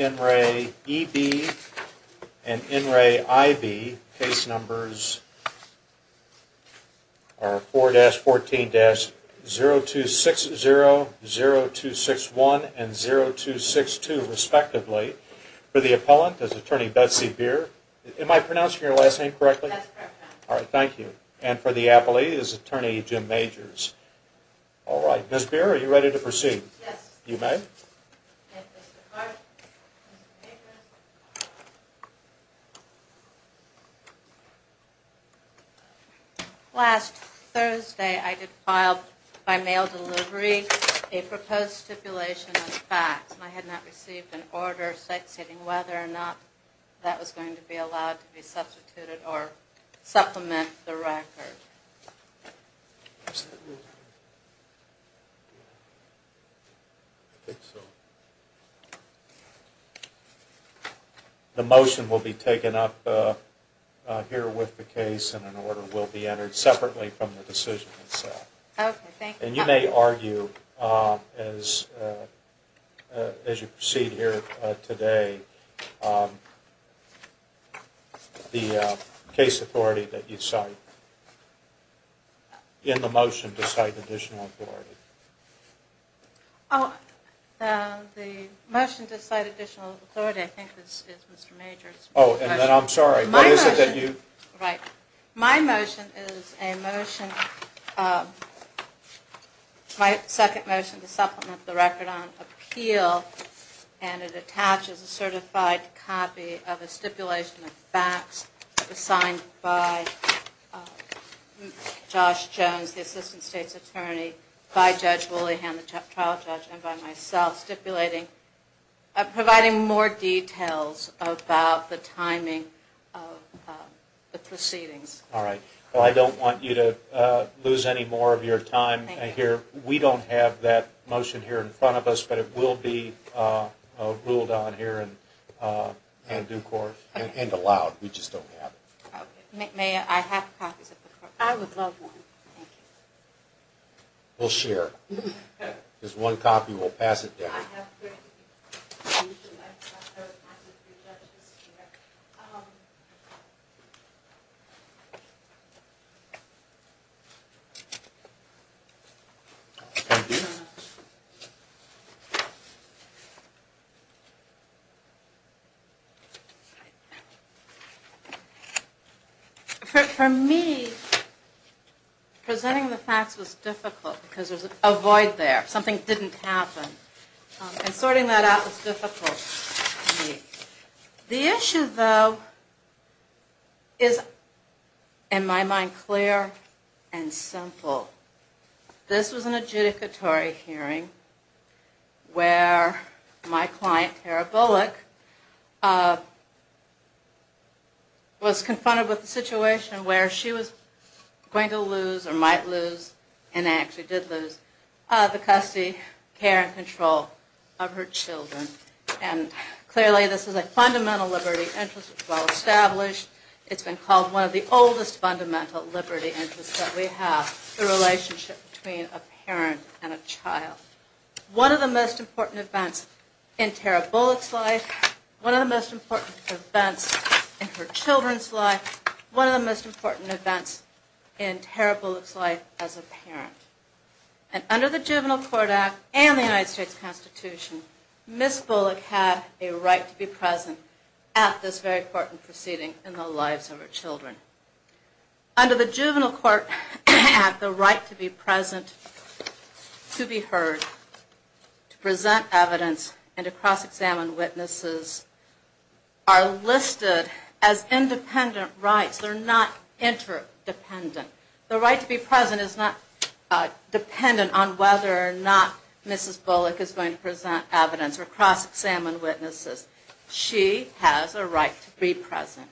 N. Ray E.B. and N. Ray I.B. case numbers are 4-14-0260, 0261, and 0262, respectively. For the appellant is Attorney Betsy Beer. Am I pronouncing your last name correctly? That's correct. All right, thank you. And for the appellee is Attorney Jim Major. All right, Ms. Beer, are you ready to proceed? Yes. You may. Thank you, Mr. Clark. Last Thursday, I did file by mail delivery a proposed stipulation of facts. I had not received an order stating whether or not that was going to be allowed to be substituted or supplement the record. I think so. The motion will be taken up here with the case and an order will be entered separately from the decision itself. Okay, thank you. And you may argue, as you proceed here today, the case authority that you cite in the motion to cite additional authority. The motion to cite additional authority, I think, is Mr. Major's motion. Oh, and then I'm sorry. What is it that you? Right. My motion is a motion, my second motion to supplement the record on appeal, and it attaches a certified copy of a stipulation of facts that was signed by Josh Jones, the Assistant State's Attorney, by Judge Woolyhan, the trial judge, and by myself, stipulating, providing more details about the timing of the proceedings. All right. Well, I don't want you to lose any more of your time here. We don't have that motion here in front of us, but it will be ruled on here in due course and allowed. We just don't have it. May I have copies? I would love one. Thank you. We'll share. Just one copy. We'll pass it down. For me, presenting the facts was difficult because there's a void there. Something didn't happen, and sorting that out was difficult for me. The issue, though, is, in my mind, clear and simple. This was an adjudicatory hearing where my client, Tara Bullock, was confronted with a situation where she was going to lose or might lose and actually did lose the custody, care, and control of her children. Clearly, this is a fundamental liberty interest. It's well established. It's been called one of the oldest fundamental liberty interests that we have, the relationship between a parent and a child. One of the most important events in Tara Bullock's life, one of the most important events in her children's life, one of the most important events in Tara Bullock's life as a parent. Under the Juvenile Court Act and the United States Constitution, Ms. Bullock had a right to be present at this very important proceeding in the lives of her children. Under the Juvenile Court Act, the right to be present, to be heard, to present evidence, and to cross-examine witnesses are listed as independent rights. They're not interdependent. The right to be present is not dependent on whether or not Mrs. Bullock is going to present evidence or cross-examine witnesses. She has a right to be present.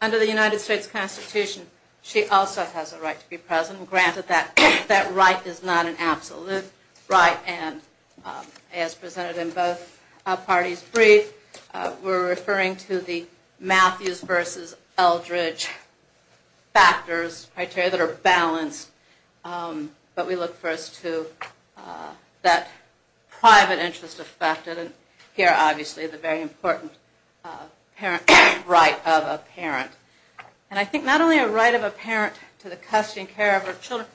Under the United States Constitution, she also has a right to be present. Granted, that right is not an absolute right, and as presented in both parties' brief, we're referring to the Matthews versus Eldridge factors, criteria that are balanced, but we look first to that private interest affected, and here, obviously, the very important right of a parent. And I think not only a right of a parent to the custody and care of her children,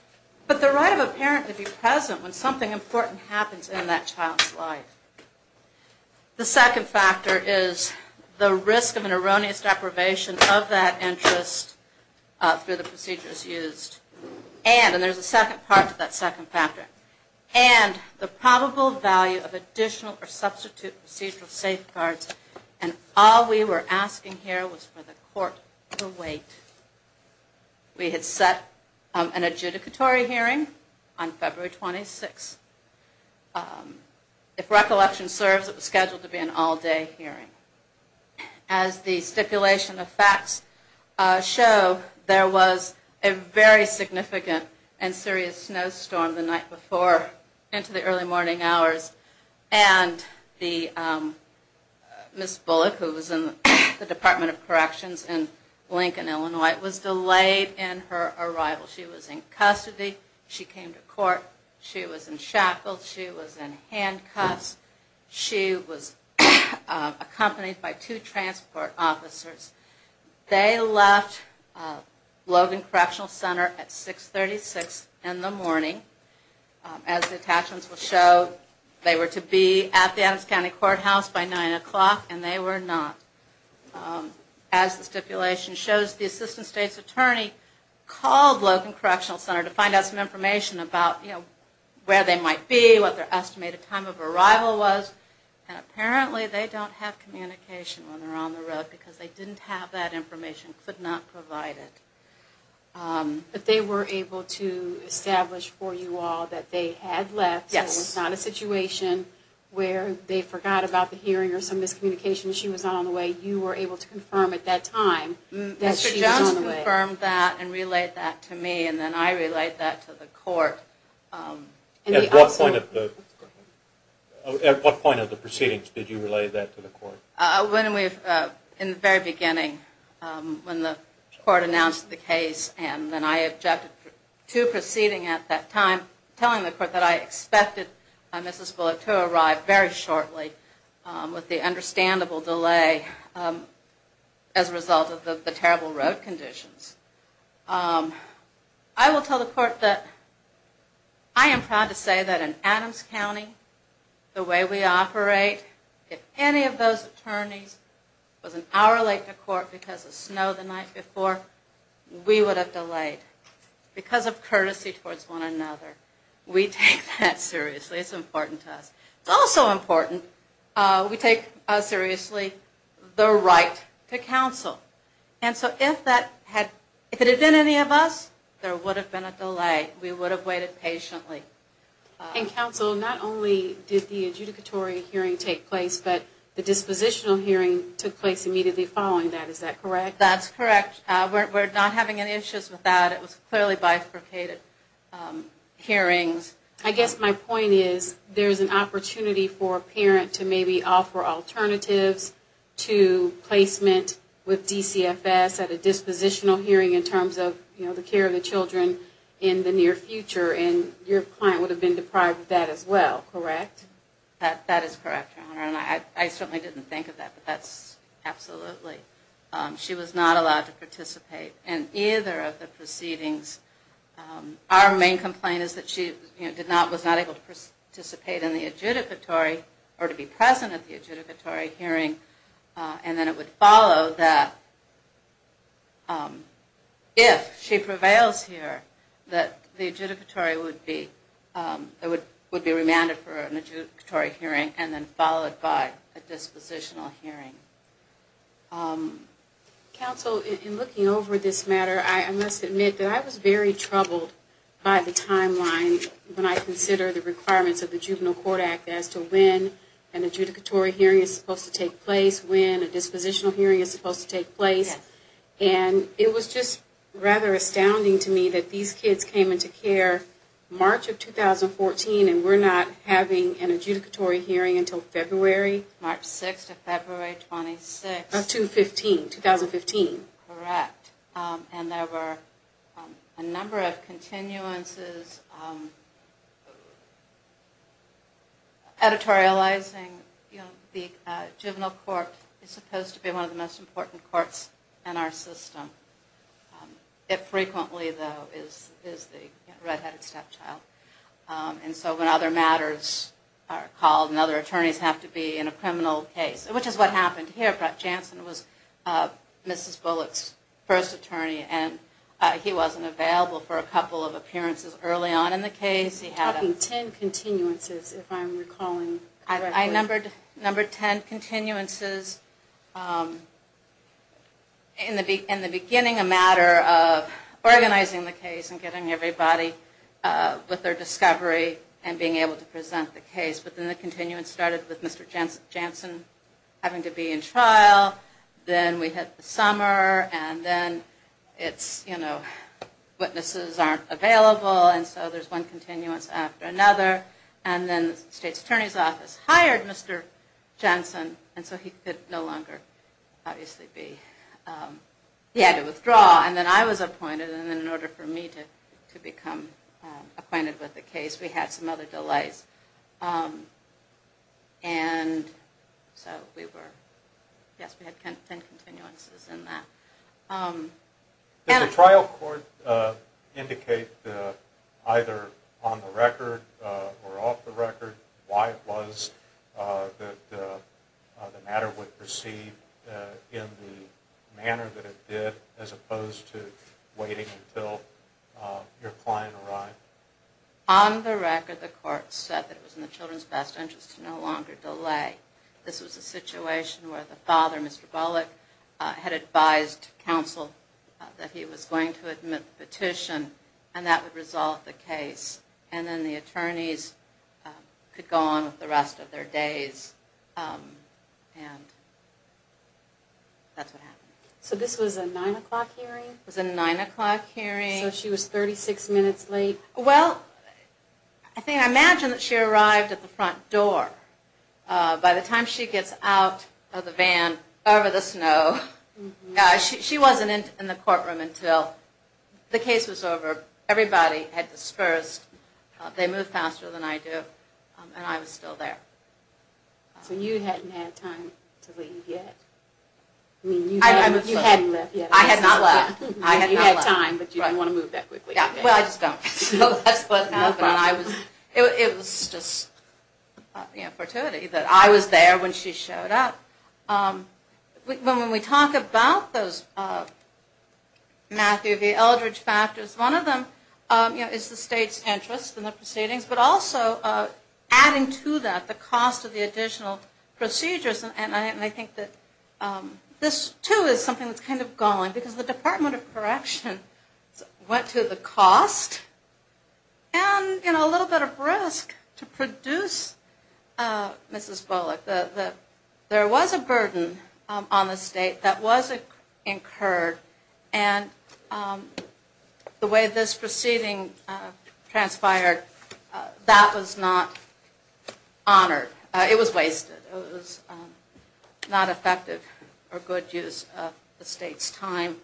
but the right of a parent to be present when something important happens in that child's life. The second factor is the risk of an erroneous deprivation of that interest through the procedures used, and, and there's a second part to that second factor, and the probable value of additional or substitute procedural safeguards, and all we were asking here was for the court to wait. We had set an adjudicatory hearing on February 26th. If recollection serves, it was scheduled to be an all-day hearing. As the stipulation of facts show, there was a very significant and serious snowstorm the night before into the early morning hours, and Ms. Bullock, who was in the Department of Corrections in Lincoln, Illinois, was delayed in her arrival. She was in custody. She came to court. She was in shackles. She was in handcuffs. She was accompanied by two transport officers. They left Logan Correctional Center at 636 in the morning. As the attachments will show, they were to be at the Adams County Courthouse by 9 o'clock, and they were not. As the stipulation shows, the assistant state's attorney called Logan Correctional Center to find out some information about, you know, where they might be, what their estimated time of arrival was, and apparently they don't have communication when they're on the road because they didn't have that information, could not provide it. But they were able to establish for you all that they had left. Yes. It was not a situation where they forgot about the hearing or some miscommunication. She was not on the way. You were able to confirm at that time that she was on the way. Mr. Jones confirmed that and relayed that to me, and then I relayed that to the court. At what point of the proceedings did you relay that to the court? In the very beginning when the court announced the case and then I objected to proceeding at that time, telling the court that I expected Mrs. Bullock to arrive very shortly with the understandable delay as a result of the terrible road conditions. I will tell the court that I am proud to say that in Adams County, the way we operate, if any of those attorneys was an hour late to court because of snow the night before, we would have delayed because of courtesy towards one another. We take that seriously. It's important to us. It's also important we take seriously the right to counsel. And so if it had been any of us, there would have been a delay. We would have waited patiently. Counsel, not only did the adjudicatory hearing take place, but the dispositional hearing took place immediately following that. Is that correct? That's correct. We're not having any issues with that. It was clearly bifurcated hearings. I guess my point is there's an opportunity for a parent to maybe offer alternatives to placement with DCFS at a dispositional hearing in terms of the care of the children in the near future. And your client would have been deprived of that as well, correct? That is correct, Your Honor. And I certainly didn't think of that, but that's absolutely. She was not allowed to participate in either of the proceedings. Our main complaint is that she was not able to participate in the adjudicatory or to be present at the adjudicatory hearing, and then it would follow that if she prevails here, that the adjudicatory would be remanded for an adjudicatory hearing and then followed by a dispositional hearing. Counsel, in looking over this matter, I must admit that I was very troubled by the timeline when I considered the requirements of the Juvenile Court Act as to when an adjudicatory hearing is supposed to take place, when a dispositional hearing is supposed to take place. Yes. And it was just rather astounding to me that these kids came into care March of 2014 and were not having an adjudicatory hearing until February. March 6 to February 26. Of 2015, 2015. Correct. And there were a number of continuances. Editorializing the Juvenile Court is supposed to be one of the most important courts in our system. It frequently, though, is the red-headed stepchild. And so when other matters are called and other attorneys have to be in a criminal case, which is what happened here, but Jansen was Mrs. Bullock's first attorney and he wasn't available for a couple of appearances early on in the case. You're talking ten continuances, if I'm recalling correctly. I numbered ten continuances. In the beginning, a matter of organizing the case and getting everybody with their discovery and being able to present the case. But then the continuance started with Mr. Jansen having to be in trial. Then we had the summer and then witnesses aren't available and so there's one continuance after another. And then the State's Attorney's Office hired Mr. Jansen and so he could no longer obviously be. He had to withdraw and then I was appointed and in order for me to become acquainted with the case, we had some other delays. And so we were, yes, we had ten continuances in that. Did the trial court indicate either on the record or off the record why it was that the matter would proceed in the manner that it did as opposed to waiting until your client arrived? On the record, the court said that it was in the children's best interest to no longer delay. This was a situation where the father, Mr. Bullock, had advised counsel that he was going to admit the petition and that would resolve the case. And then the attorneys could go on with the rest of their days and that's what happened. So this was a 9 o'clock hearing? It was a 9 o'clock hearing. So she was 36 minutes late? Well, I imagine that she arrived at the front door. By the time she gets out of the van over the snow, she wasn't in the courtroom until the case was over. Everybody had dispersed. They moved faster than I did and I was still there. So you hadn't had time to leave yet? I had not left. You had time, but you didn't want to move that quickly. Well, I just don't. It was just fortuity that I was there when she showed up. When we talk about those Matthew V. Eldridge factors, one of them is the state's interest in the proceedings, but also adding to that the cost of the additional procedures. And I think that this, too, is something that's kind of galling because the Department of Corrections went to the cost and a little bit of risk to produce Mrs. Bullock. There was a burden on the state that was incurred, and the way this proceeding transpired, that was not honored. It was wasted. It was not effective or good use of the state's time.